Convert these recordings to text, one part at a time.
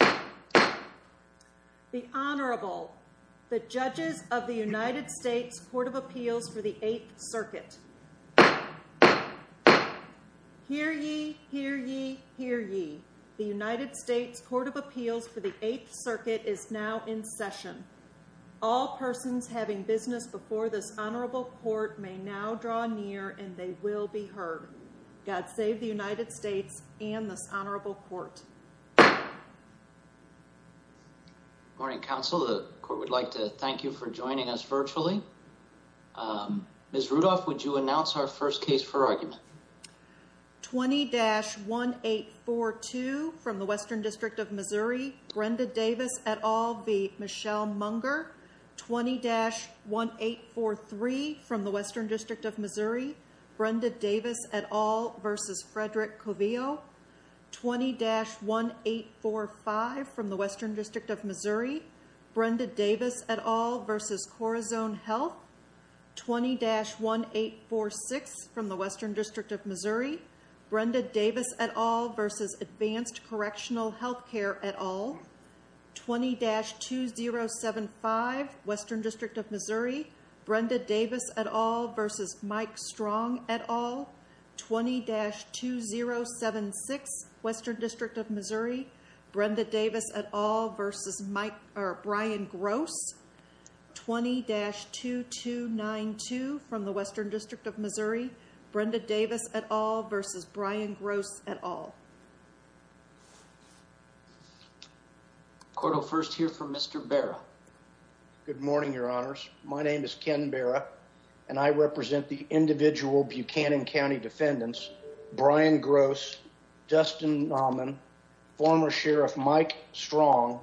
The Honorable, the Judges of the United States Court of Appeals for the Eighth Circuit Hear ye, hear ye, hear ye. The United States Court of Appeals for the Eighth Circuit is now in session. All persons having business before this honorable court may now draw near and they will be heard. God save the United States and this honorable court. Good morning, counsel. The court would like to thank you for joining us virtually. Ms. Rudolph, would you announce our first case for argument? 20-1842 from the Western District of Missouri, Brenda Davis et al v. Michelle Munger 20-1843 from the Western District of Missouri, Brenda Davis et al v. Frederick Covillo 20-1845 from the Western District of Missouri, Brenda Davis et al v. Corazon Health 20-1846 from the Western District of Missouri, Brenda Davis et al v. Advanced Correctional Health Care et al 20-2075 Western District of Missouri, Brenda Davis et al v. Mike Strong et al 20-2076 Western District of Missouri, Brenda Davis et al v. Brian Gross 20-2292 from the Western District of Missouri, Brenda Davis et al v. Brian Gross et al Court will first hear from Mr. Barra. Good morning, your honors. My name is Ken Barra and I represent the individual Buchanan County defendants Brian Gross, Dustin Nauman, former Sheriff Mike Strong,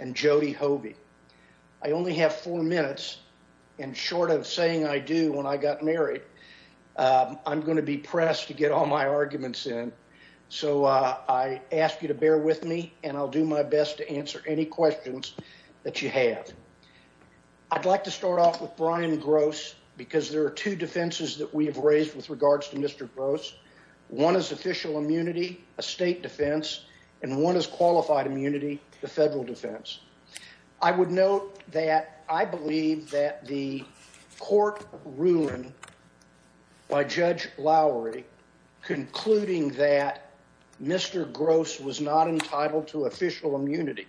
and Jody Hovey. I only have four minutes and short of saying I do when I got married, I'm going to be pressed to get all my arguments in. So I ask you to bear with me and I'll do my best to answer any questions that you have. I'd like to start off with Brian Gross because there are two defenses that we have raised with regards to Mr. Gross. One is official immunity, a state defense, and one is qualified immunity, the federal defense. I would note that I believe that the court ruling by Judge Lowry concluding that Mr. Gross was not entitled to official immunity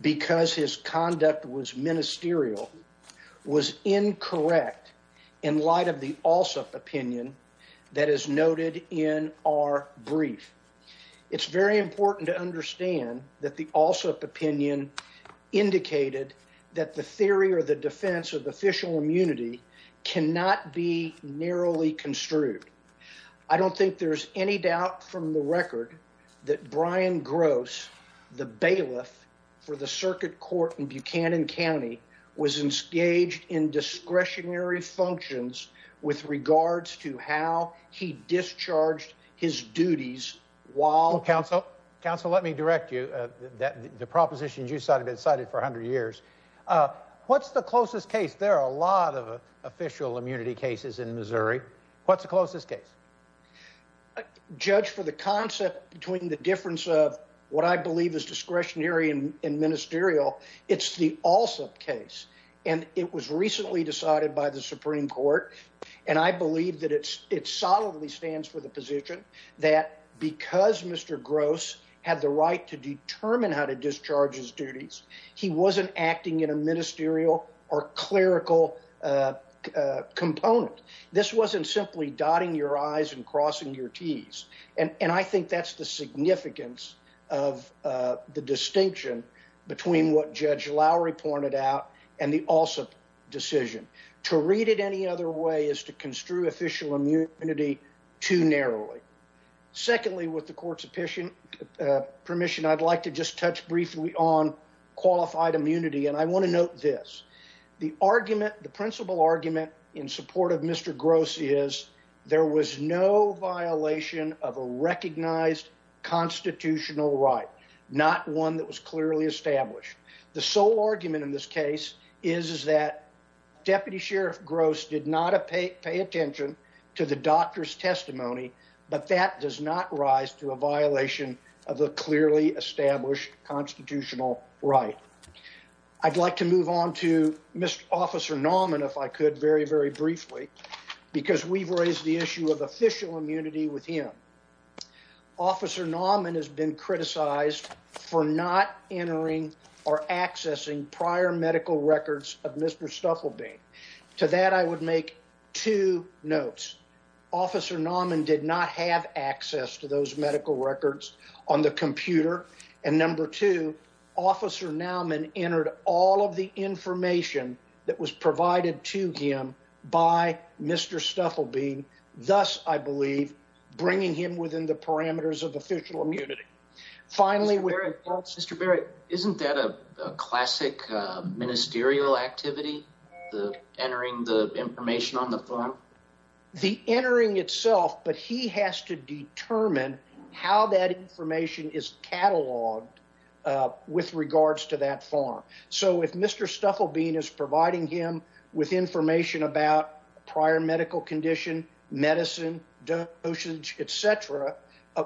because his conduct was ministerial, was incorrect in light of the also opinion that is noted in our brief. It's very important to understand that the also opinion indicated that the theory or the defense of official immunity cannot be narrowly construed. I don't think there's any doubt from the record that Brian Gross, the bailiff for the circuit court in Buchanan County, was engaged in discretionary functions with regards to how he discharged his duties while... Counsel, let me direct you. The propositions you cited have been cited for a hundred years. What's the closest case? There are a lot of official immunity cases in Missouri. What's the closest case? Judge, for the concept between the difference of what I believe is discretionary and ministerial, it's the also case. And it was recently decided by the Supreme Court, and I believe that it solidly stands for the position that because Mr. Gross had the right to determine how to discharge his duties, he wasn't acting in a ministerial or clerical component. This wasn't simply dotting your I's and crossing your T's. And I think that's the significance of the distinction between what Judge Lowry pointed out and the also decision. To read it any other way is to construe official immunity too narrowly. Secondly, with the court's permission, I'd like to just touch briefly on qualified immunity. And I want to note this. The argument, the principal argument in support of Mr. Gross is there was no violation of a recognized constitutional right, not one that was clearly established. The sole argument in this case is that Deputy Sheriff Gross did not pay attention to the doctor's testimony. But that does not rise to a violation of the clearly established constitutional right. I'd like to move on to Mr. Officer Nauman, if I could, very, very briefly, because we've raised the issue of official immunity with him. Officer Nauman has been criticized for not entering or accessing prior medical records of Mr. Stufflebee. To that, I would make two notes. Officer Nauman did not have access to those medical records on the computer. And number two, Officer Nauman entered all of the information that was provided to him by Mr. Stufflebee, thus, I believe, bringing him within the parameters of official immunity. Finally, Mr. Berry, isn't that a classic ministerial activity? The entering the information on the farm, the entering itself. But he has to determine how that information is cataloged with regards to that farm. So if Mr. Stufflebee is providing him with information about prior medical condition, medicine, dosage, et cetera,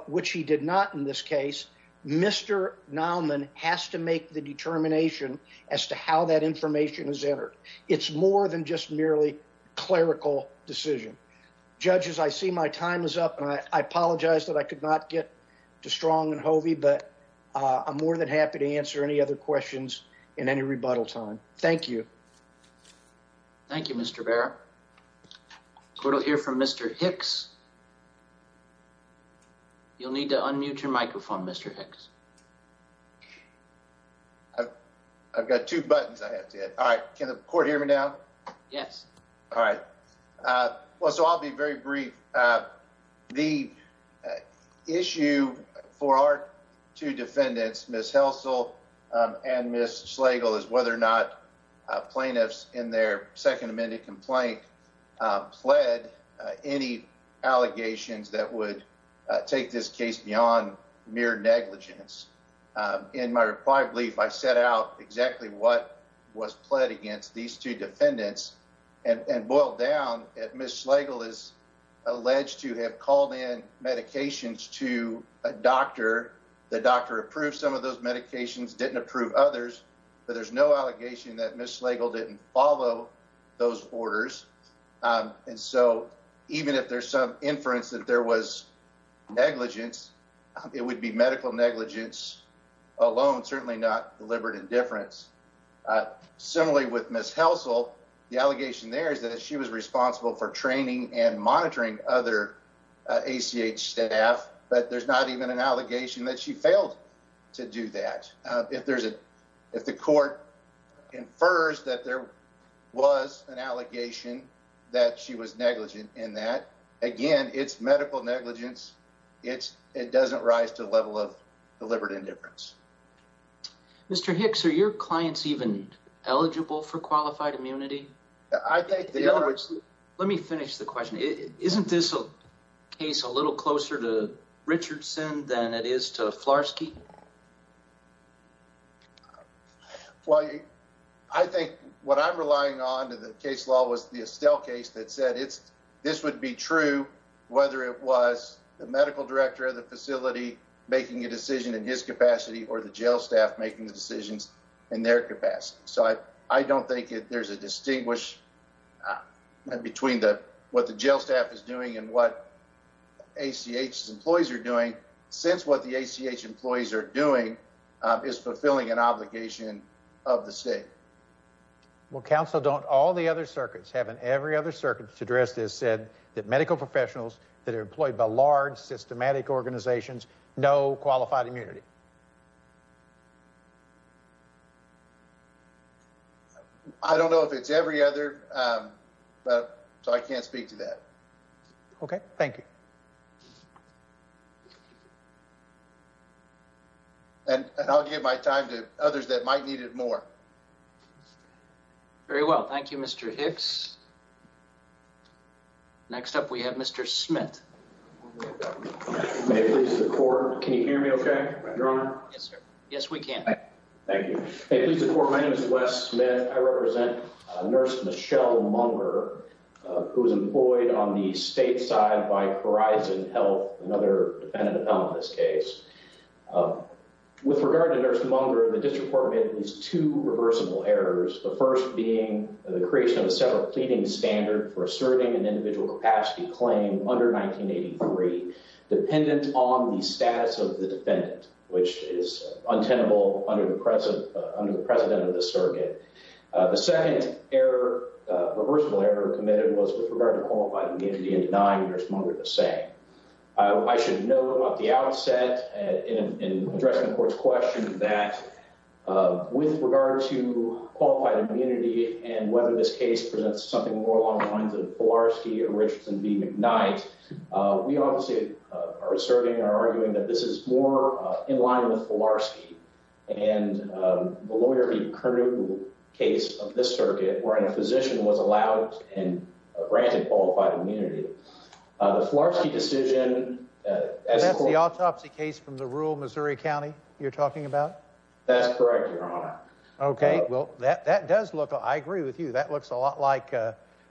which he did not in this case. Mr. Nauman has to make the determination as to how that information is entered. It's more than just merely clerical decision. Judges, I see my time is up, and I apologize that I could not get to Strong and Hovey. But I'm more than happy to answer any other questions in any rebuttal time. Thank you. Thank you, Mr. Berry. We'll hear from Mr. Hicks. You'll need to unmute your microphone, Mr. Hicks. I've got two buttons I have to hit. All right. Can the court hear me now? Yes. All right. Well, so I'll be very brief. The issue for our two defendants, Ms. Helsall and Ms. Slagle, is whether or not plaintiffs in their second amended complaint pled any allegations that would take this case beyond mere negligence. In my reply brief, I set out exactly what was pled against these two defendants and boiled down that Ms. Slagle is alleged to have called in medications to a doctor. The doctor approved some of those medications, didn't approve others. But there's no allegation that Ms. Slagle didn't follow those orders. And so even if there's some inference that there was negligence, it would be medical negligence alone, certainly not deliberate indifference. Similarly with Ms. Helsall, the allegation there is that she was responsible for training and monitoring other ACH staff. But there's not even an allegation that she failed to do that. If the court infers that there was an allegation that she was negligent in that, again, it's medical negligence. It doesn't rise to the level of deliberate indifference. Mr. Hicks, are your clients even eligible for qualified immunity? I think they are. Let me finish the question. Isn't this a case a little closer to Richardson than it is to Flarsky? Well, I think what I'm relying on in the case law was the Estelle case that said this would be true whether it was the medical director of the facility making a decision in his capacity or the jail staff making the decisions in their capacity. So I don't think there's a distinguish between what the jail staff is doing and what ACH's employees are doing, since what the ACH employees are doing is fulfilling an obligation of the state. Well, counsel, don't all the other circuits, haven't every other circuit addressed this, said that medical professionals that are employed by large, systematic organizations know qualified immunity? I don't know if it's every other, so I can't speak to that. Okay, thank you. And I'll give my time to others that might need it more. Very well, thank you, Mr. Hicks. Next up, we have Mr. Smith. May it please the court, can you hear me okay, your honor? Yes, sir. Yes, we can. Thank you. May it please the court, my name is Wes Smith. I represent Nurse Michelle Munger, who was employed on the state side by Horizon Health, another defendant in this case. With regard to Nurse Munger, the district court made at least two reversible errors. The first being the creation of a separate pleading standard for asserting an individual capacity claim under 1983, dependent on the status of the defendant, which is untenable under the precedent of this circuit. The second error, reversible error committed was with regard to qualified immunity and denying Nurse Munger the say. I should note at the outset, in addressing the court's question, that with regard to qualified immunity and whether this case presents something more along the lines of Filarski or Richardson v. McKnight, we obviously are asserting or arguing that this is more in line with Filarski. And the lawyer v. Kernew, the case of this circuit, wherein a physician was allowed and granted qualified immunity, the Filarski decision... That's the autopsy case from the rural Missouri County you're talking about? That's correct, your honor. Okay, well, that does look, I agree with you, that looks a lot like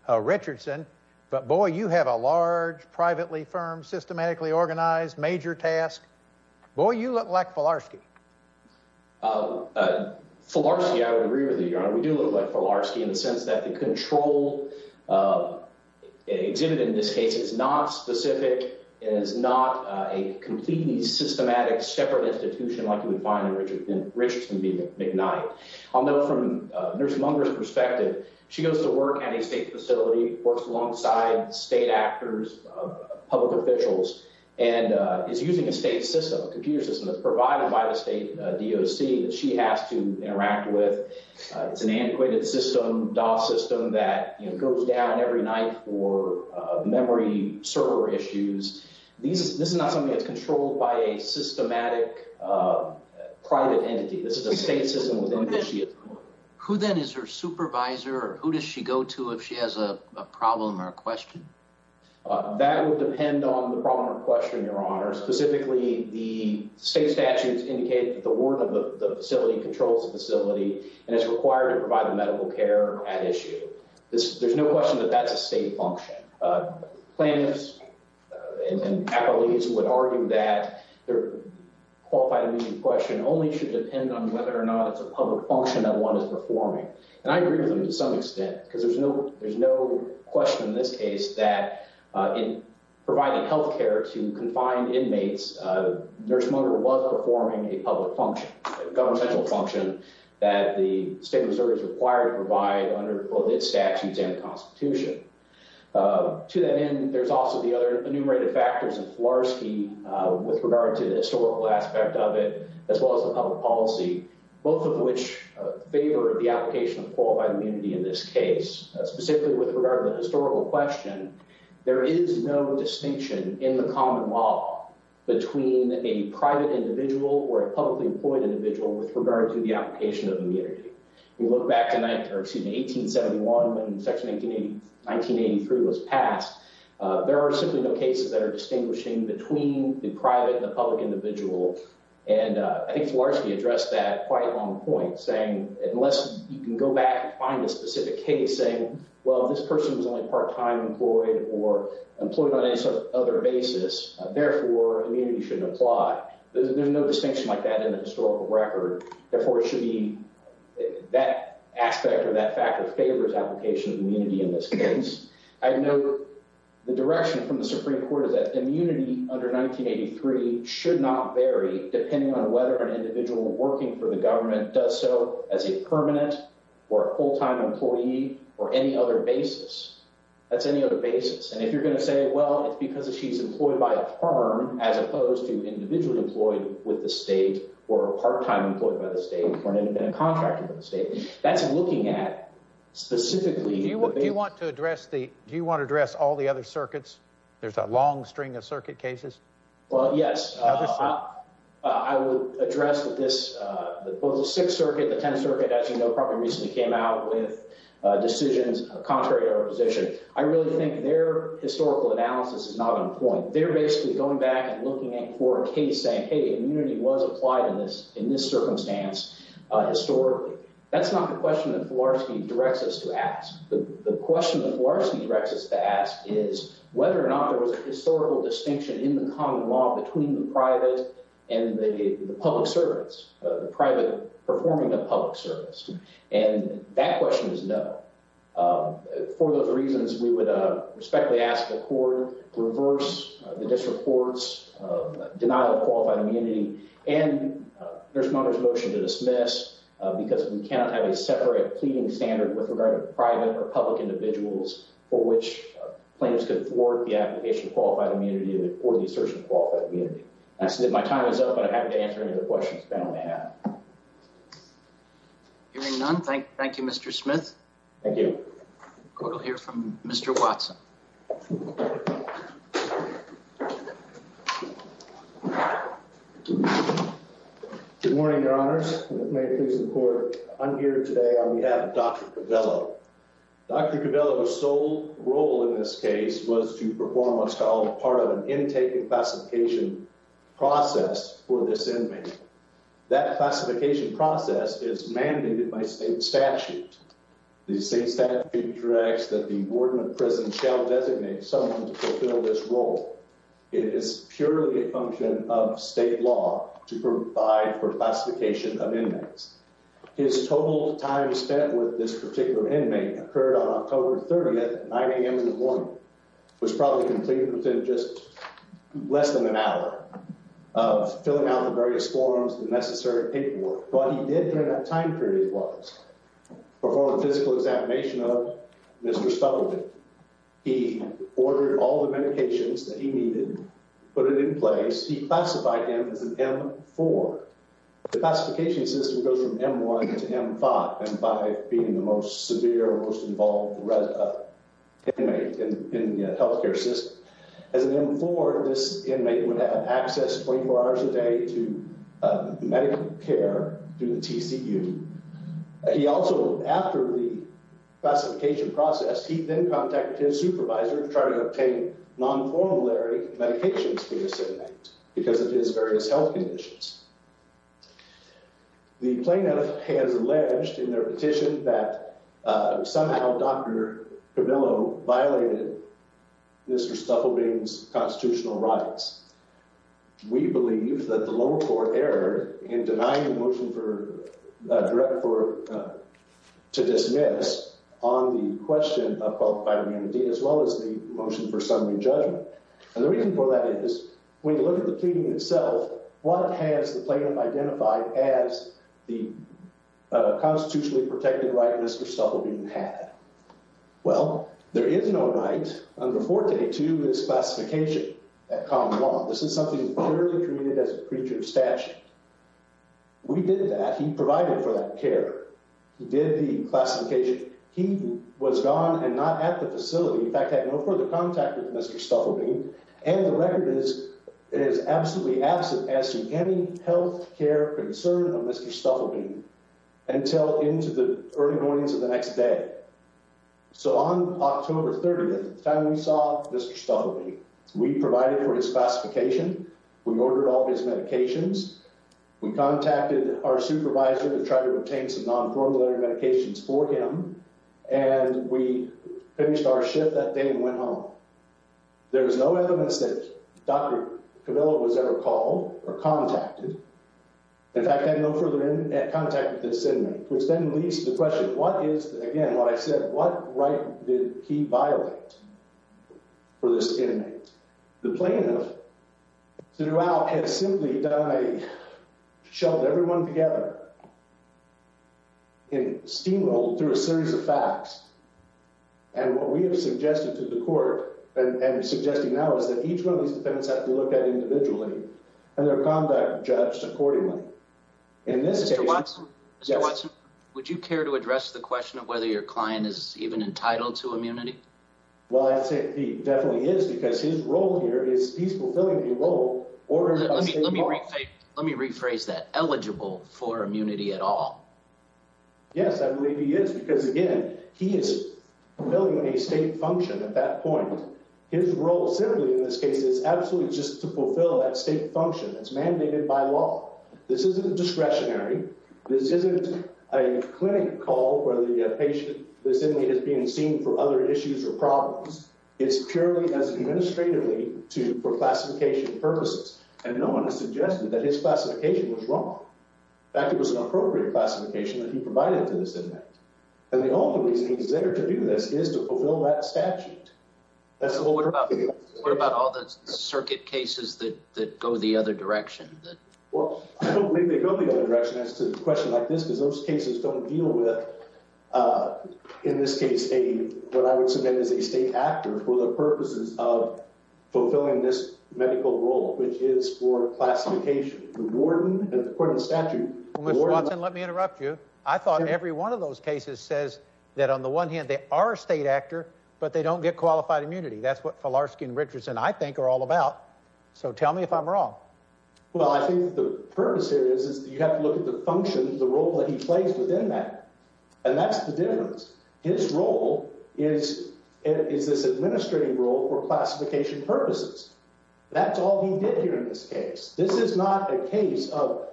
Richardson, but boy, you have a large, privately-firmed, systematically-organized, major task. Boy, you look like Filarski. Filarski, I would agree with you, your honor. We do look like Filarski in the sense that the control exhibited in this case is not specific and is not a completely systematic, separate institution like you would find in Richardson v. McKnight. Although from Nurse Munger's perspective, she goes to work at a state facility, works alongside state actors, public officials, and is using a state system, a computer system that's provided by the state DOC that she has to interact with. It's an antiquated system, DOF system, that goes down every night for memory server issues. This is not something that's controlled by a systematic private entity. This is a state system within which she is... Who then is her supervisor, or who does she go to if she has a problem or a question? That would depend on the problem or question, your honor. Specifically, the state statutes indicate that the ward of the facility controls the facility and is required to provide the medical care at issue. There's no question that that's a state function. Plaintiffs and appellees would argue that their qualified immediate question only should depend on whether or not it's a public function that one is performing. And I agree with them to some extent, because there's no question in this case that in providing health care to confined inmates, the nursemonger was performing a public function, a governmental function that the state reserve is required to provide under both its statutes and the Constitution. To that end, there's also the other enumerated factors in Filarski with regard to the historical aspect of it, as well as the public policy, both of which favor the application of qualified immunity in this case. Specifically with regard to the historical question, there is no distinction in the common law between a private individual or a publicly employed individual with regard to the application of immunity. We look back to 1871 when Section 1983 was passed. There are simply no cases that are distinguishing between the private and the public individual. And I think Filarski addressed that quite at one point, saying unless you can go back and find a specific case saying, well, this person was only part-time employed or employed on any sort of other basis, therefore immunity shouldn't apply. There's no distinction like that in the historical record. Therefore, it should be that aspect or that factor favors application of immunity in this case. I know the direction from the Supreme Court is that immunity under 1983 should not vary depending on whether an individual working for the government does so as a permanent or a full-time employee or any other basis. That's any other basis. And if you're going to say, well, it's because she's employed by a firm as opposed to individually employed with the state or part-time employed by the state or an independent contractor with the state, that's looking at specifically the basis. Do you want to address the – do you want to address all the other circuits? There's a long string of circuit cases. Well, yes. Other circuits? I would address that this – both the Sixth Circuit, the Tenth Circuit, as you know, probably recently came out with decisions contrary to our position. I really think their historical analysis is not on point. They're basically going back and looking at court case saying, hey, immunity was applied in this circumstance historically. That's not the question that Filarski directs us to ask. The question that Filarski directs us to ask is whether or not there was a historical distinction in the common law between the private and the public servants, the private performing a public service. And that question is no. For those reasons, we would respectfully ask the court to reverse the district court's denial of qualified immunity and the nursemonger's motion to dismiss because we cannot have a separate pleading standard with regard to private or public individuals for which plaintiffs could thwart the application of qualified immunity or the assertion of qualified immunity. My time is up, but I'm happy to answer any other questions the panel may have. Hearing none, thank you, Mr. Smith. Thank you. The court will hear from Mr. Watson. Good morning, Your Honors. If it may please the court, I'm here today on behalf of Dr. Covello. Dr. Covello's sole role in this case was to perform what's called part of an intake and classification process for this inmate. That classification process is mandated by state statute. The state statute directs that the warden of the prison shall designate someone to fulfill this role. It is purely a function of state law to provide for classification of inmates. His total time spent with this particular inmate occurred on October 30th at 9 a.m. in the morning. It was probably completed within just less than an hour of filling out the various forms and necessary paperwork. What he did during that time period was perform a physical examination of Mr. Stuckelbein. He ordered all the medications that he needed, put it in place. He classified him as an M4. The classification system goes from M1 to M5, M5 being the most severe, most involved inmate in the health care system. As an M4, this inmate would have access 24 hours a day to medical care through the TCU. He also, after the classification process, he then contacted his supervisor to try to obtain non-formulary medications for this inmate because of his various health conditions. The plaintiff has alleged in their petition that somehow Dr. Camillo violated Mr. Stuckelbein's constitutional rights. We believe that the lower court erred in denying the motion to dismiss on the question of qualified immunity as well as the motion for summary judgment. And the reason for that is when you look at the pleading itself, what has the plaintiff identified as the constitutionally protected right Mr. Stuckelbein had? Well, there is no right under Forte to this classification at common law. This is something clearly treated as a creature of statute. We did that. He provided for that care. He did the classification. He was gone and not at the facility. In fact, had no further contact with Mr. Stuckelbein. And the record is it is absolutely absent as to any health care concern of Mr. Stuckelbein until into the early mornings of the next day. So on October 30th, the time we saw Mr. Stuckelbein, we provided for his classification. We ordered all his medications. We contacted our supervisor to try to obtain some non-formulary medications for him. And we finished our shift that day and went home. There is no evidence that Dr. Camillo was ever called or contacted. In fact, had no further contact with this inmate. Which then leads to the question, what is, again, what I said, what right did he violate for this inmate? The plaintiff throughout has simply done a, shoved everyone together in steamroll through a series of facts. And what we have suggested to the court and suggesting now is that each one of these defendants have to look at individually. And their conduct judged accordingly. Mr. Watson, would you care to address the question of whether your client is even entitled to immunity? Well, I'd say he definitely is because his role here is he's fulfilling a role. Let me rephrase that. Eligible for immunity at all? Yes, I believe he is. Because, again, he is fulfilling a state function at that point. His role simply in this case is absolutely just to fulfill that state function that's mandated by law. This isn't a discretionary. This isn't a clinic call where the patient, the inmate is being seen for other issues or problems. It's purely as administratively for classification purposes. And no one has suggested that his classification was wrong. In fact, it was an appropriate classification that he provided to this inmate. And the only reason he's there to do this is to fulfill that statute. What about all the circuit cases that go the other direction? Well, I don't believe they go the other direction as to a question like this because those cases don't deal with, in this case, what I would submit as a state actor for the purposes of fulfilling this medical role, which is for classification. The warden, according to the statute. Well, Mr. Watson, let me interrupt you. I thought every one of those cases says that on the one hand they are a state actor, but they don't get qualified immunity. That's what Filarski and Richardson, I think, are all about. So tell me if I'm wrong. Well, I think the purpose here is you have to look at the function, the role that he plays within that. And that's the difference. His role is this administrative role for classification purposes. That's all he did here in this case. This is not a case of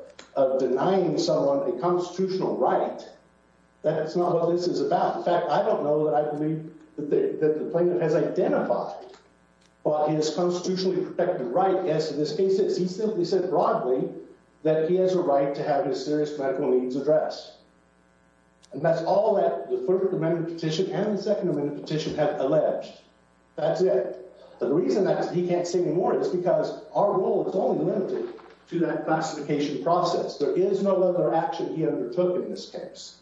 denying someone a constitutional right. That's not what this is about. In fact, I don't know that I believe that the plaintiff has identified what his constitutionally protected right is in this case. He simply said broadly that he has a right to have his serious medical needs addressed. And that's all that the First Amendment petition and the Second Amendment petition have alleged. That's it. But the reason that he can't say anymore is because our role is only limited to that classification process. There is no other action he undertook in this case.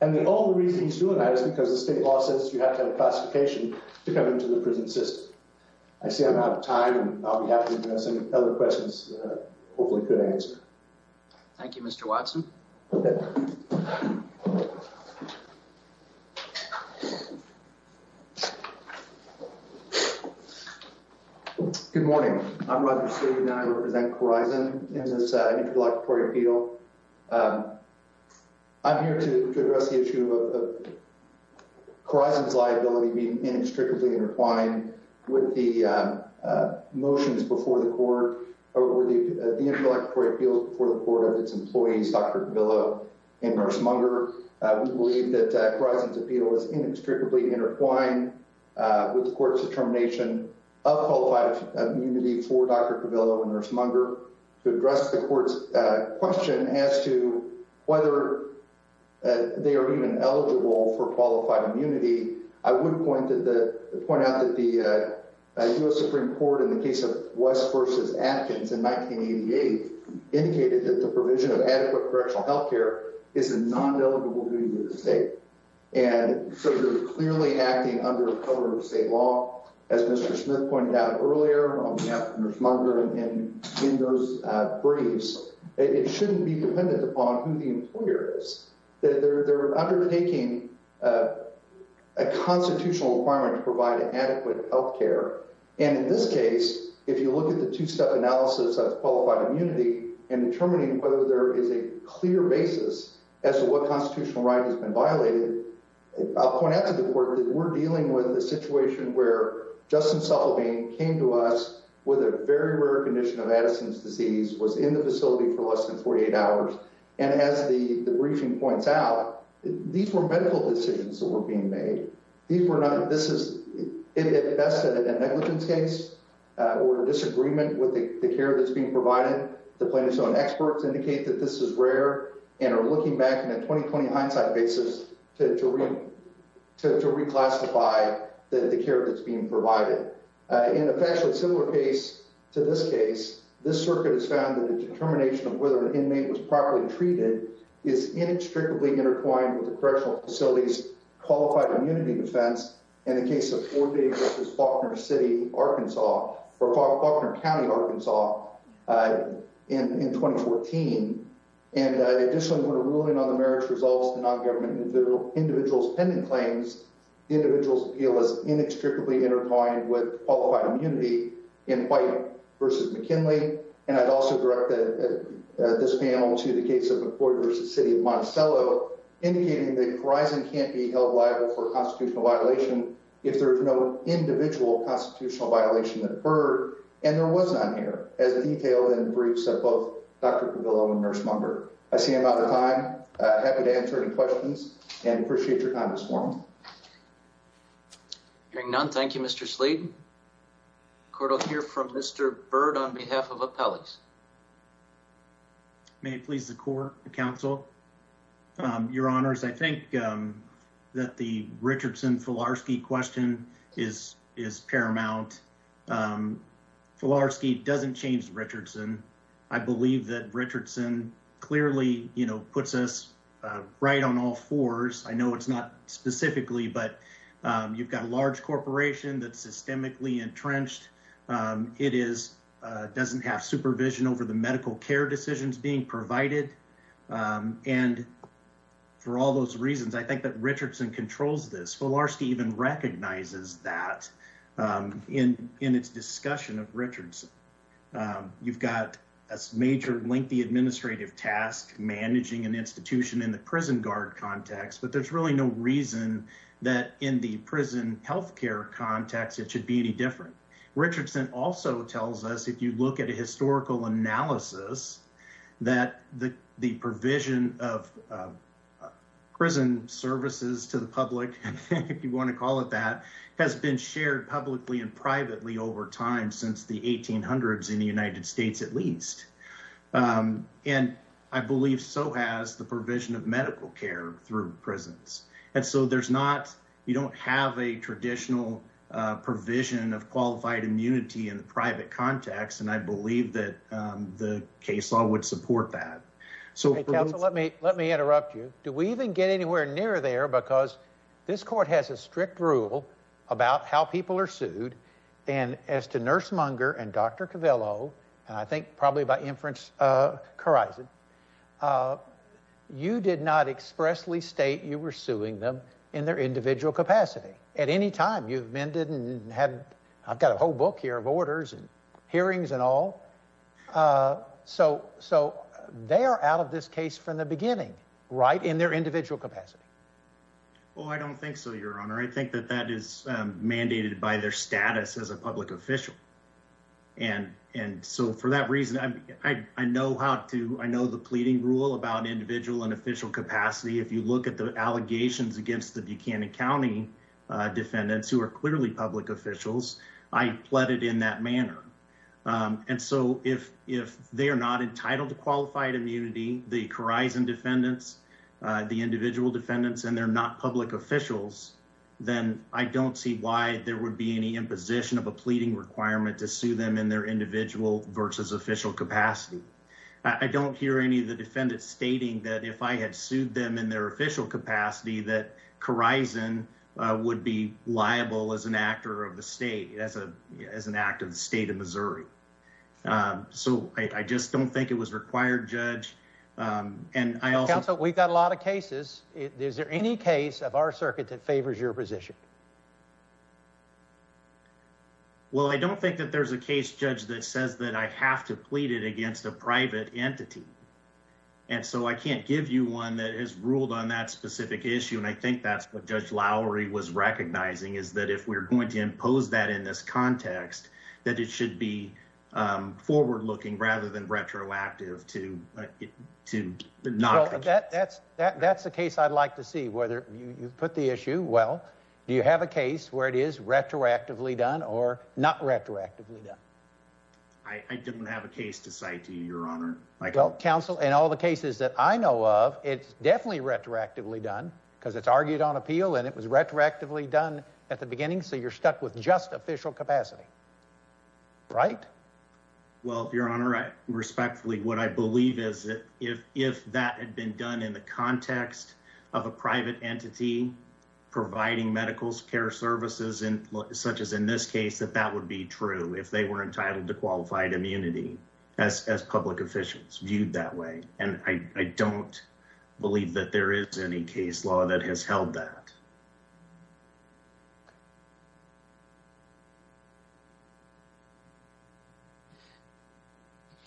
And the only reason he's doing that is because the state law says you have to have a classification to come into the prison system. I see I'm out of time, and I'll be happy to address any other questions that I hopefully could answer. Thank you, Mr. Watson. Okay. Good morning. I'm Roger Sagan, and I represent Corizon in this Intercollectory Appeal. I'm here to address the issue of Corizon's liability being inextricably intertwined with the motions before the court, or the Intercollectory Appeals before the court of its employees, Dr. Davila and Nurse Munger. We believe that Corizon's appeal is inextricably intertwined with the court's determination of qualified immunity for Dr. Davila and Nurse Munger. To address the court's question as to whether they are even eligible for qualified immunity, I would point out that the U.S. Supreme Court, in the case of West v. Atkins in 1988, indicated that the provision of adequate correctional health care is a non-delegable duty of the state, and so they're clearly acting under the cover of state law. As Mr. Smith pointed out earlier on behalf of Nurse Munger in those briefs, it shouldn't be dependent upon who the employer is. They're undertaking a constitutional requirement to provide adequate health care, and in this case, if you look at the two-step analysis of qualified immunity and determining whether there is a clear basis as to what constitutional right has been violated, I'll point out to the court that we're dealing with a situation where Justin Suffolk came to us with a very rare condition of Addison's disease, was in the facility for less than 48 hours, and as the briefing points out, these were medical decisions that were being made. This is at best a negligence case or a disagreement with the care that's being provided. The plaintiffs' own experts indicate that this is rare and are looking back in a 20-20 hindsight basis to reclassify the care that's being provided. In a factually similar case to this case, this circuit has found that the determination of whether an inmate was properly treated is inextricably intertwined with the correctional facility's qualified immunity defense in the case of Fort Davis v. Faulkner County, Arkansas, in 2014. Additionally, when a ruling on the merits resolves to non-government individuals pending claims, the individual's appeal is inextricably intertwined with qualified immunity in White v. McKinley, and I'd also direct this panel to the case of McCord v. City of Monticello, indicating that Verizon can't be held liable for a constitutional violation if there is no individual constitutional violation that occurred, and there was none here, as detailed in the briefs of both Dr. Cavillo and Nurse Munger. I see I'm out of time. I'm happy to answer any questions and appreciate your comments for me. Hearing none, thank you, Mr. Sleet. The court will hear from Mr. Byrd on behalf of Appellees. May it please the court, counsel, your honors, I think that the Richardson-Filarski question is paramount. Filarski doesn't change Richardson. I believe that Richardson clearly, you know, puts us right on all fours. I know it's not specifically, but you've got a large corporation that's systemically entrenched. It doesn't have supervision over the medical care decisions being provided. And for all those reasons, I think that Richardson controls this. Filarski even recognizes that in its discussion of Richardson. You've got a major lengthy administrative task managing an institution in the prison guard context, but there's really no reason that in the prison health care context it should be any different. Richardson also tells us, if you look at a historical analysis, that the provision of prison services to the public, if you want to call it that, has been shared publicly and privately over time since the 1800s in the United States at least. And I believe so has the provision of medical care through prisons. And so there's not, you don't have a traditional provision of qualified immunity in the private context, and I believe that the case law would support that. Counsel, let me interrupt you. Do we even get anywhere near there? Because this court has a strict rule about how people are sued, and as to Nurse Munger and Dr. Covello, and I think probably by inference, Corison, you did not expressly state you were suing them in their individual capacity at any time. You've amended and had, I've got a whole book here of orders and hearings and all. So they are out of this case from the beginning, right, in their individual capacity. Well, I don't think so, Your Honor. I think that that is mandated by their status as a public official. And so for that reason, I know how to, I know the pleading rule about individual and official capacity. If you look at the allegations against the Buchanan County defendants, who are clearly public officials, I pled it in that manner. And so if they are not entitled to qualified immunity, the Corison defendants, the individual defendants, and they're not public officials, then I don't see why there would be any imposition of a pleading requirement to sue them in their individual versus official capacity. I don't hear any of the defendants stating that if I had sued them in their official capacity, that Corison would be liable as an actor of the state, as an act of the state of Missouri. So I just don't think it was required, Judge. Counsel, we've got a lot of cases. Is there any case of our circuit that favors your position? Well, I don't think that there's a case, Judge, that says that I have to plead it against a private entity. And so I can't give you one that has ruled on that specific issue, and I think that's what Judge Lowry was recognizing, is that if we're going to impose that in this context, that it should be forward-looking rather than retroactive to not. That's the case I'd like to see, whether you put the issue well. Do you have a case where it is retroactively done or not retroactively done? I didn't have a case to cite to you, Your Honor. Well, Counsel, in all the cases that I know of, it's definitely retroactively done because it's argued on appeal, and it was retroactively done at the beginning, so you're stuck with just official capacity, right? Well, Your Honor, respectfully, what I believe is that if that had been done in the context of a private entity providing medical care services, such as in this case, that that would be true if they were entitled to qualified immunity as public officials viewed that way, and I don't believe that there is any case law that has held that.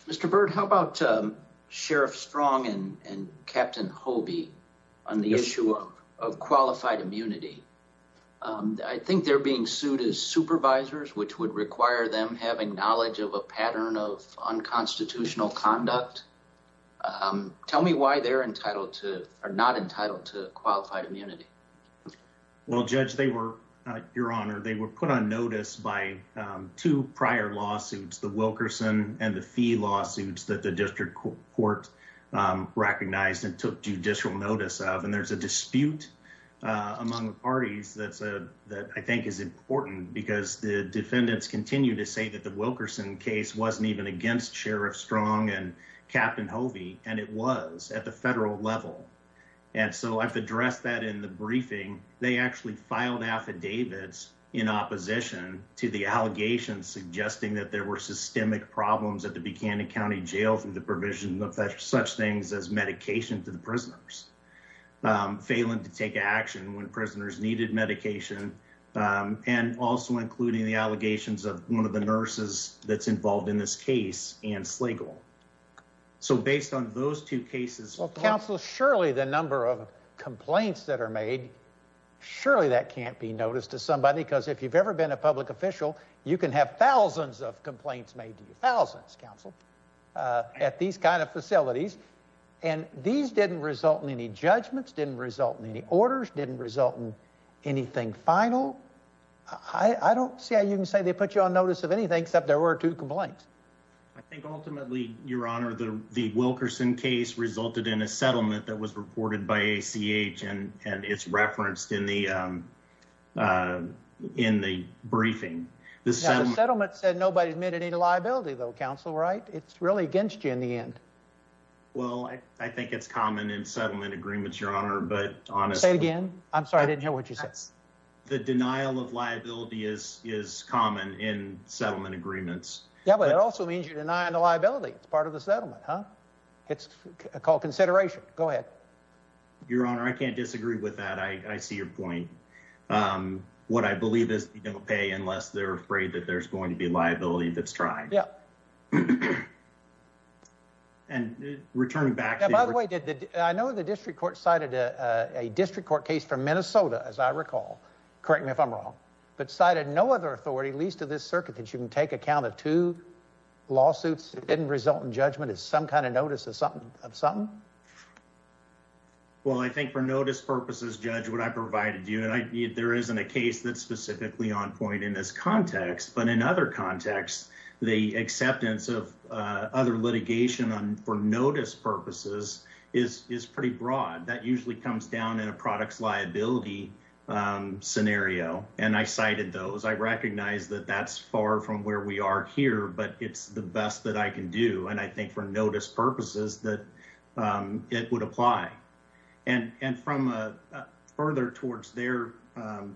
Mr. Byrd, how about Sheriff Strong and Captain Hobie on the issue of qualified immunity? I think they're being sued as supervisors, which would require them having knowledge of a pattern of unconstitutional conduct. Tell me why they're not entitled to qualified immunity. Well, Judge, Your Honor, they were put on notice by two prior lawsuits, the Wilkerson and the Fee lawsuits that the district court recognized and took judicial notice of, and there's a dispute among the parties that I think is important because the defendants continue to say that the Wilkerson case wasn't even against Sheriff Strong and Captain Hobie, and it was at the federal level, and so I've addressed that in the briefing. They actually filed affidavits in opposition to the allegations suggesting that there were systemic problems at the Buchanan County Jail through the provision of such things as medication to the prisoners, failing to take action when prisoners needed medication, and also including the allegations of one of the nurses that's involved in this case, Ann Slagle. So based on those two cases... Well, counsel, surely the number of complaints that are made, surely that can't be noticed to somebody because if you've ever been a public official, you can have thousands of complaints made to you, thousands, counsel, at these kind of facilities, and these didn't result in any judgments, didn't result in any orders, didn't result in anything final. I don't see how you can say they put you on notice of anything except there were two complaints. I think ultimately, Your Honor, the Wilkerson case resulted in a settlement that was reported by ACH, and it's referenced in the briefing. The settlement said nobody admitted any liability, though, counsel, right? It's really against you in the end. Well, I think it's common in settlement agreements, Your Honor, but honestly... Say it again. I'm sorry, I didn't hear what you said. The denial of liability is common in settlement agreements. Yeah, but it also means you're denying the liability. It's part of the settlement, huh? It's called consideration. Go ahead. Your Honor, I can't disagree with that. I see your point. What I believe is you don't pay unless they're afraid that there's going to be liability if it's tried. Yeah. And returning back to... Now, by the way, I know the district court cited a district court case from Minnesota, as I recall. Correct me if I'm wrong. But cited no other authority, at least of this circuit, that you can take account of two lawsuits that didn't result in judgment as some kind of notice of something? Well, I think for notice purposes, Judge, what I provided you... There isn't a case that's specifically on point in this context, but in other contexts, the acceptance of other litigation for notice purposes is pretty broad. That usually comes down in a products liability scenario, and I cited those. I recognize that that's far from where we are here, but it's the best that I can do. And I think for notice purposes that it would apply. And from further towards their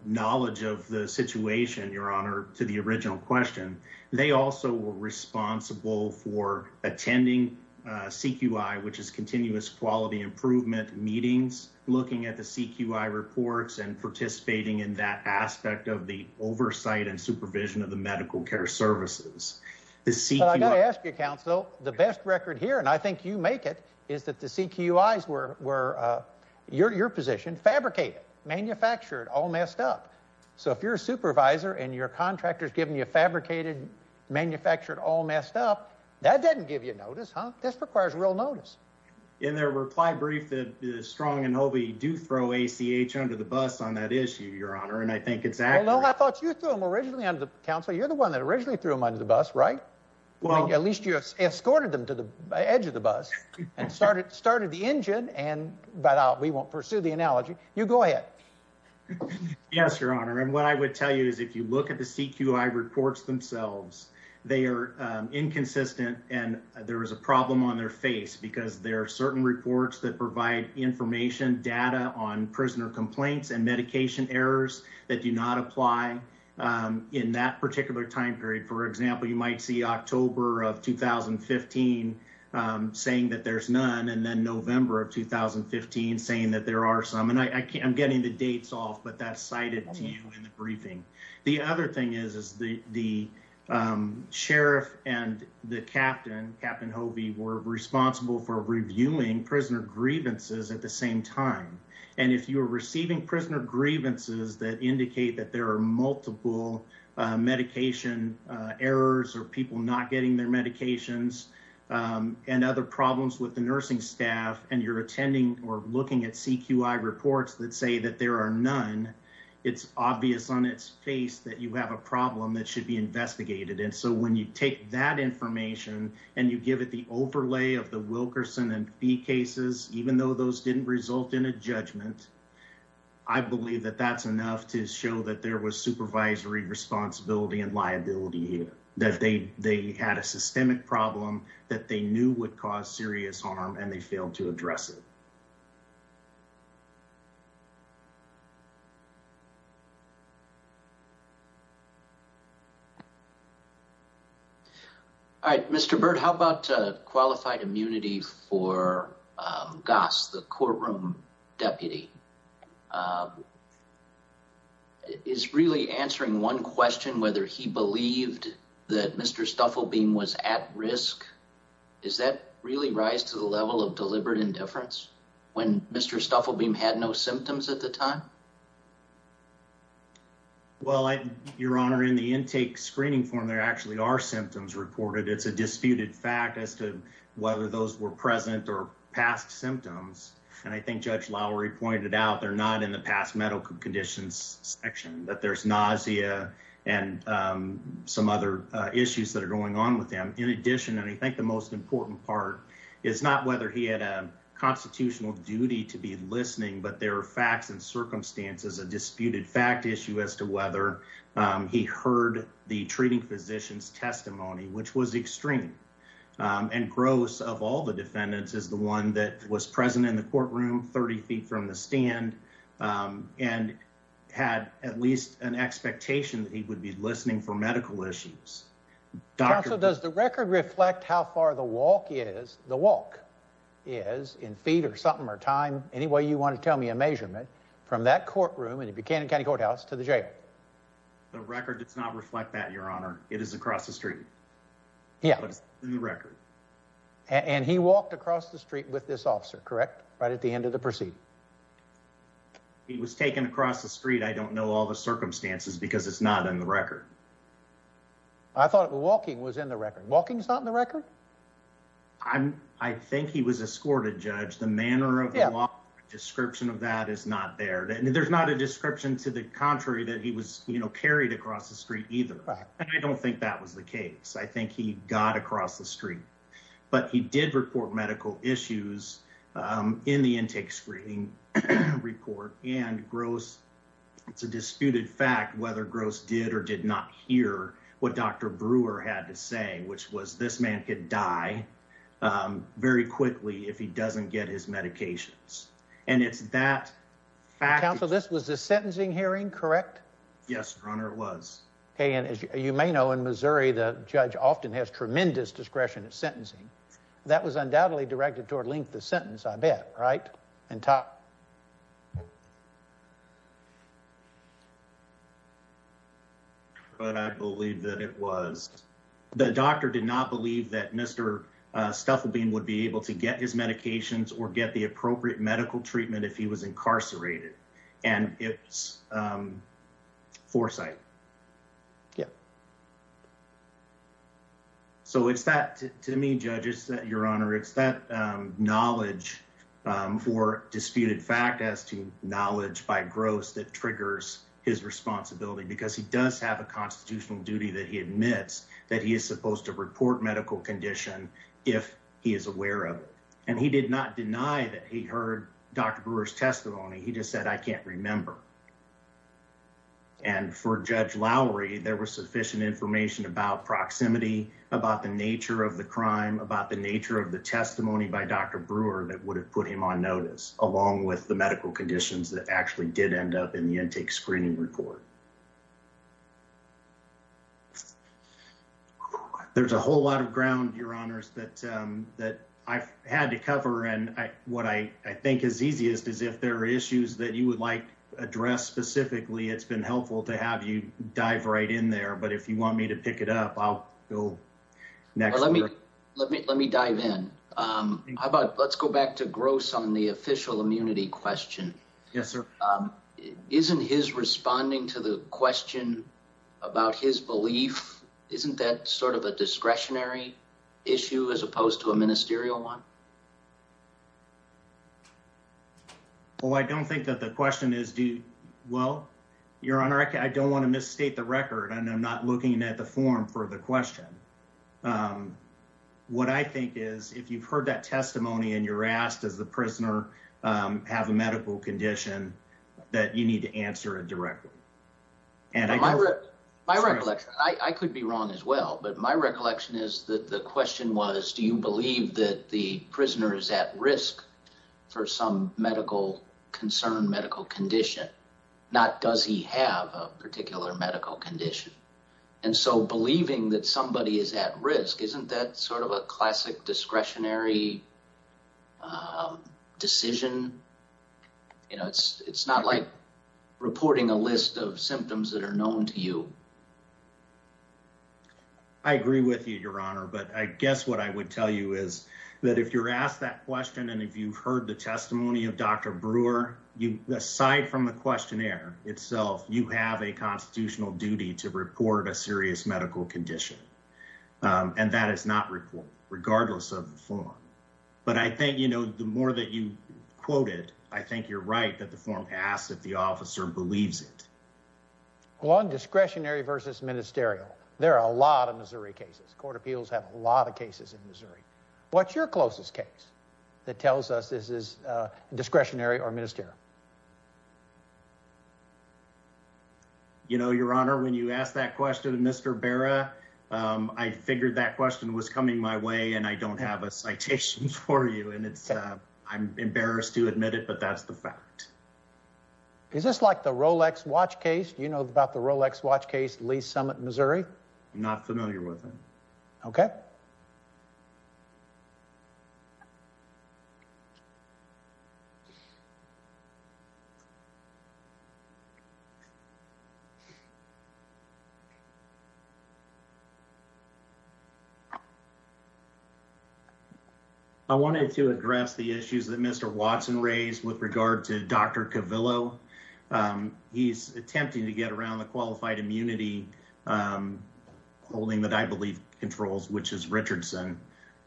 knowledge of the situation, Your Honor, to the original question, they also were responsible for attending CQI, which is Continuous Quality Improvement meetings, looking at the CQI reports and participating in that aspect of the oversight and supervision of the medical care services. But I got to ask you, Counsel, the best record here, and I think you make it, is that the CQIs were, your position, fabricated, manufactured, all messed up. So if you're a supervisor and your contractor's giving you fabricated, manufactured, all messed up, that doesn't give you notice, huh? This requires real notice. In their reply brief, Strong and Hobey do throw ACH under the bus on that issue, Your Honor, and I think it's accurate. No, I thought you threw them originally under the bus, Counsel. You're the one that originally threw them under the bus, right? Well, at least you escorted them to the edge of the bus and started the engine, but we won't pursue the analogy. You go ahead. Yes, Your Honor, and what I would tell you is if you look at the CQI reports themselves, they are inconsistent, and there is a problem on their face because there are certain reports that provide information, data on prisoner complaints and medication errors that do not apply in that particular time period. For example, you might see October of 2015 saying that there's none and then November of 2015 saying that there are some, and I'm getting the dates off, but that's cited to you in the briefing. The other thing is the sheriff and the captain, Captain Hobey, were responsible for reviewing prisoner grievances at the same time, and if you are receiving prisoner grievances that indicate that there are multiple medication errors or people not getting their medications and other problems with the nursing staff and you're attending or looking at CQI reports that say that there are none, it's obvious on its face that you have a problem that should be investigated, and so when you take that information and you give it the overlay of the Wilkerson and Fee cases, even though those didn't result in a judgment, I believe that that's enough to show that there was supervisory responsibility and liability here, that they had a systemic problem that they knew would cause serious harm and they failed to address it. All right. Mr. Byrd, how about qualified immunity for Goss, the courtroom deputy? Is really answering one question, whether he believed that Mr. Stuffelbeam was at risk, does that really rise to the level of deliberate indifference when Mr. Stuffelbeam had no symptoms at the time? Well, Your Honor, in the intake screening form, there actually are symptoms reported. It's a disputed fact as to whether those were present or past symptoms, and I think Judge Lowery pointed out they're not in the past medical conditions section, that there's nausea and some other issues that are going on with him. In addition, and I think the most important part, is not whether he had a constitutional duty to be listening, but there are facts and circumstances, a disputed fact issue as to whether he heard the treating physician's testimony, which was extreme. And Gross, of all the defendants, is the one that was present in the courtroom 30 feet from the stand and had at least an expectation that he would be listening for medical issues. Counsel, does the record reflect how far the walk is, the walk is, in feet or something or time, any way you want to tell me a measurement, from that courtroom in the Buchanan County Courthouse to the jail? The record does not reflect that, Your Honor. It is across the street. Yeah. It's in the record. And he walked across the street with this officer, correct, right at the end of the proceeding? I don't know all the circumstances because it's not in the record. I thought walking was in the record. Walking's not in the record? I think he was escorted, Judge. The manner of the walk, the description of that is not there. There's not a description to the contrary that he was carried across the street either. And I don't think that was the case. I think he got across the street. But he did report medical issues in the intake screening report, and Gross, it's a disputed fact whether Gross did or did not hear what Dr. Brewer had to say, which was this man could die very quickly if he doesn't get his medications. And it's that fact. Counsel, this was a sentencing hearing, correct? Yes, Your Honor, it was. Okay, and as you may know, in Missouri, the judge often has tremendous discretion in sentencing. That was undoubtedly directed toward length of sentence, I bet, right? And top. But I believe that it was. The doctor did not believe that Mr. Stuffelbein would be able to get his medications or get the appropriate medical treatment if he was incarcerated. And it's foresight. Yeah. So it's that, to me, Judge, it's that, Your Honor, it's that knowledge for disputed fact as to knowledge by Gross that triggers his responsibility because he does have a constitutional duty that he admits that he is supposed to report medical condition if he is aware of it. And he did not deny that he heard Dr. Brewer's testimony. He just said, I can't remember. And for Judge Lowry, there was sufficient information about proximity, about the nature of the crime, about the nature of the testimony by Dr. Brewer that would have put him on notice, along with the medical conditions that actually did end up in the intake screening report. There's a whole lot of ground, Your Honors, that I've had to cover. And what I think is easiest is if there are issues that you would like addressed specifically, it's been helpful to have you dive right in there. But if you want me to pick it up, I'll go next. Let me dive in. How about let's go back to Gross on the official immunity question. Yes, sir. Isn't his responding to the question about his belief, isn't that sort of a discretionary issue as opposed to a ministerial one? Well, I don't think that the question is, well, Your Honor, I don't want to misstate the record, and I'm not looking at the form for the question. What I think is if you've heard that testimony and you're asked, does the prisoner have a medical condition, that you need to answer it directly. My recollection, I could be wrong as well, but my recollection is that the question was, do you believe that the prisoner is at risk for some medical concern, medical condition, not does he have a particular medical condition? And so believing that somebody is at risk, isn't that sort of a classic discretionary decision? It's not like reporting a list of symptoms that are known to you. I agree with you, Your Honor, but I guess what I would tell you is that if you're asked that question and if you've heard the testimony of Dr. Brewer, aside from the questionnaire itself, you have a constitutional duty to report a serious medical condition, and that is not reported, regardless of the form. But I think the more that you quote it, I think you're right that the form asks if the officer believes it. Well, on discretionary versus ministerial, there are a lot of Missouri cases. Court of Appeals have a lot of cases in Missouri. What's your closest case that tells us this is discretionary or ministerial? You know, Your Honor, when you asked that question to Mr. Barra, I figured that question was coming my way, and I don't have a citation for you, and I'm embarrassed to admit it, but that's the fact. Is this like the Rolex watch case? Do you know about the Rolex watch case, Lee's Summit, Missouri? I'm not familiar with it. Okay. Thank you. I wanted to address the issues that Mr. Watson raised with regard to Dr. Cavillo. He's attempting to get around the qualified immunity holding that I believe controls, which is Richardson.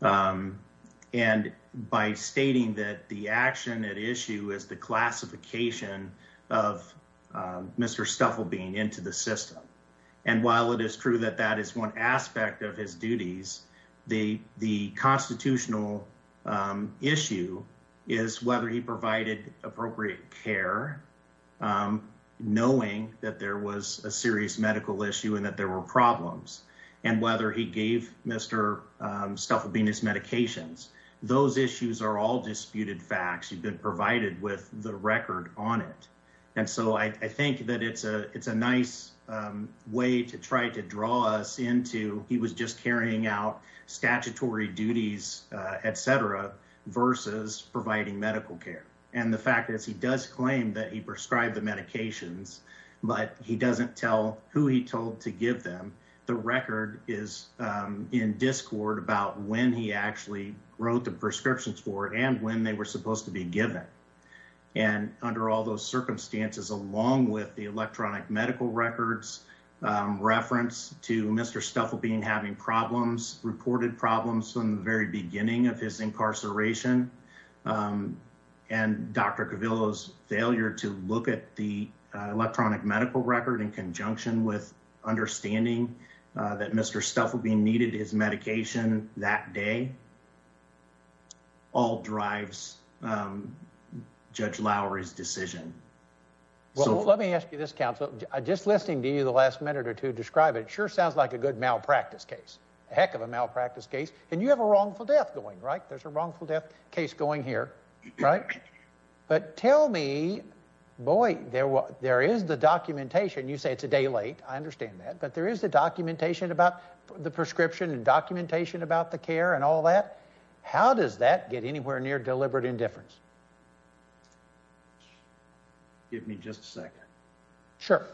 And by stating that the action at issue is the classification of Mr. Stufflebean into the system. And while it is true that that is one aspect of his duties, the constitutional issue is whether he provided appropriate care, knowing that there was a serious medical issue and that there were problems, and whether he gave Mr. Stufflebean his medications. Those issues are all disputed facts. You've been provided with the record on it. And so I think that it's a nice way to try to draw us into, he was just carrying out statutory duties, et cetera, versus providing medical care. And the fact is he does claim that he prescribed the medications, but he doesn't tell who he told to give them. The record is in discord about when he actually wrote the prescriptions for and when they were supposed to be given. And under all those circumstances, along with the electronic medical records reference to Mr. Stufflebean having problems, reported problems from the very beginning of his incarceration and Dr. Cavillo's failure to look at the electronic medical record in conjunction with understanding that Mr. Stufflebean needed his medication that day, all drives Judge Lowery's decision. Let me ask you this, counsel. Just listening to you the last minute or two, describe it. It sure sounds like a good malpractice case. A heck of a malpractice case. And you have a wrongful death going, right? There's a wrongful death case going here, right? But tell me, boy, there is the documentation. You say it's a day late. I understand that. But there is the documentation about the prescription and documentation about the care and all that. How does that get anywhere near deliberate indifference? Give me just a second. Sure.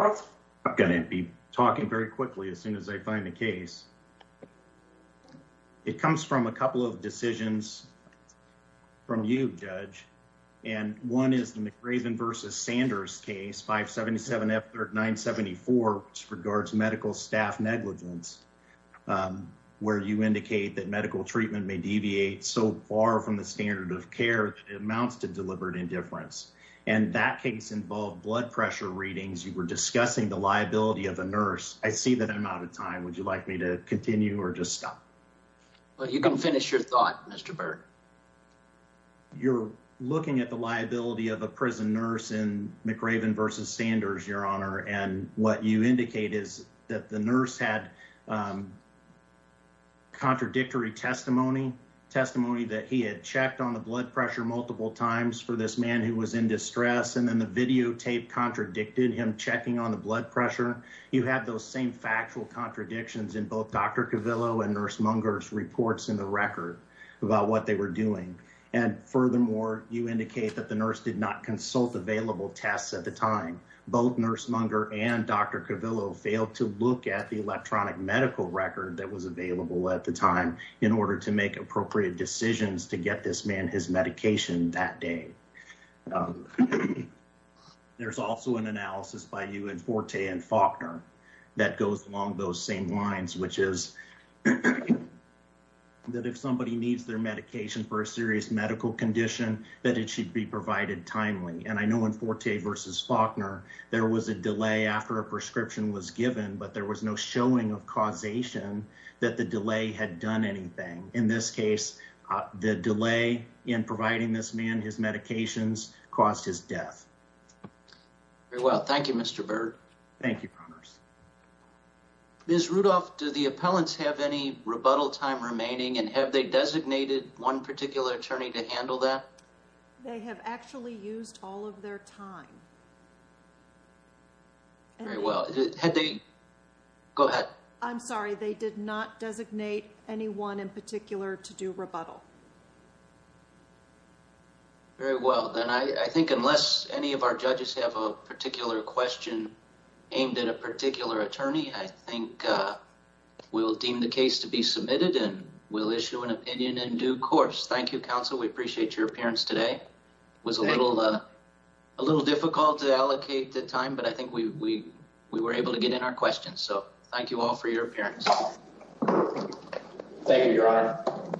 I'm going to be talking very quickly as soon as I find the case. It comes from a couple of decisions from you, Judge. And one is the McRaven versus Sanders case, 577F974, which regards medical staff negligence, where you indicate that medical treatment may deviate so far from the standard of care that it amounts to deliberate indifference. And that case involved blood pressure readings. You were discussing the liability of a nurse. I see that I'm out of time. Would you like me to continue or just stop? Well, you can finish your thought, Mr. Byrd. You're looking at the liability of a prison nurse in McRaven versus Sanders, Your Honor. And what you indicate is that the nurse had contradictory testimony, testimony that he had checked on the blood pressure multiple times for this man who was in distress. And then the videotape contradicted him checking on the blood pressure. You have those same factual contradictions in both Dr. Cavillo and Nurse Munger's reports in the record about what they were doing. And furthermore, you indicate that the nurse did not consult available tests at the time. Both Nurse Munger and Dr. Cavillo failed to look at the electronic medical record that was available at the time in order to make appropriate decisions to get this man his medication that day. There's also an analysis by you and Forte and Faulkner that goes along those same lines, which is that if somebody needs their medication for a serious medical condition, that it should be provided timely. And I know in Forte versus Faulkner, there was a delay after a prescription was given, but there was no showing of causation that the delay had done anything. So in this case, the delay in providing this man, his medications caused his death. Very well. Thank you, Mr. Bird. Thank you, Promise. Ms. Rudolph, do the appellants have any rebuttal time remaining? And have they designated one particular attorney to handle that? They have actually used all of their time. Very well. Had they... Go ahead. I'm sorry. They did not designate anyone in particular to do rebuttal. Very well. Then I think unless any of our judges have a particular question aimed at a particular attorney, I think we'll deem the case to be submitted and we'll issue an opinion in due course. Thank you, counsel. We appreciate your appearance today. It was a little difficult to allocate the time, but I think we were able to get in our questions. So thank you all for your appearance. Thank you, Your Honor.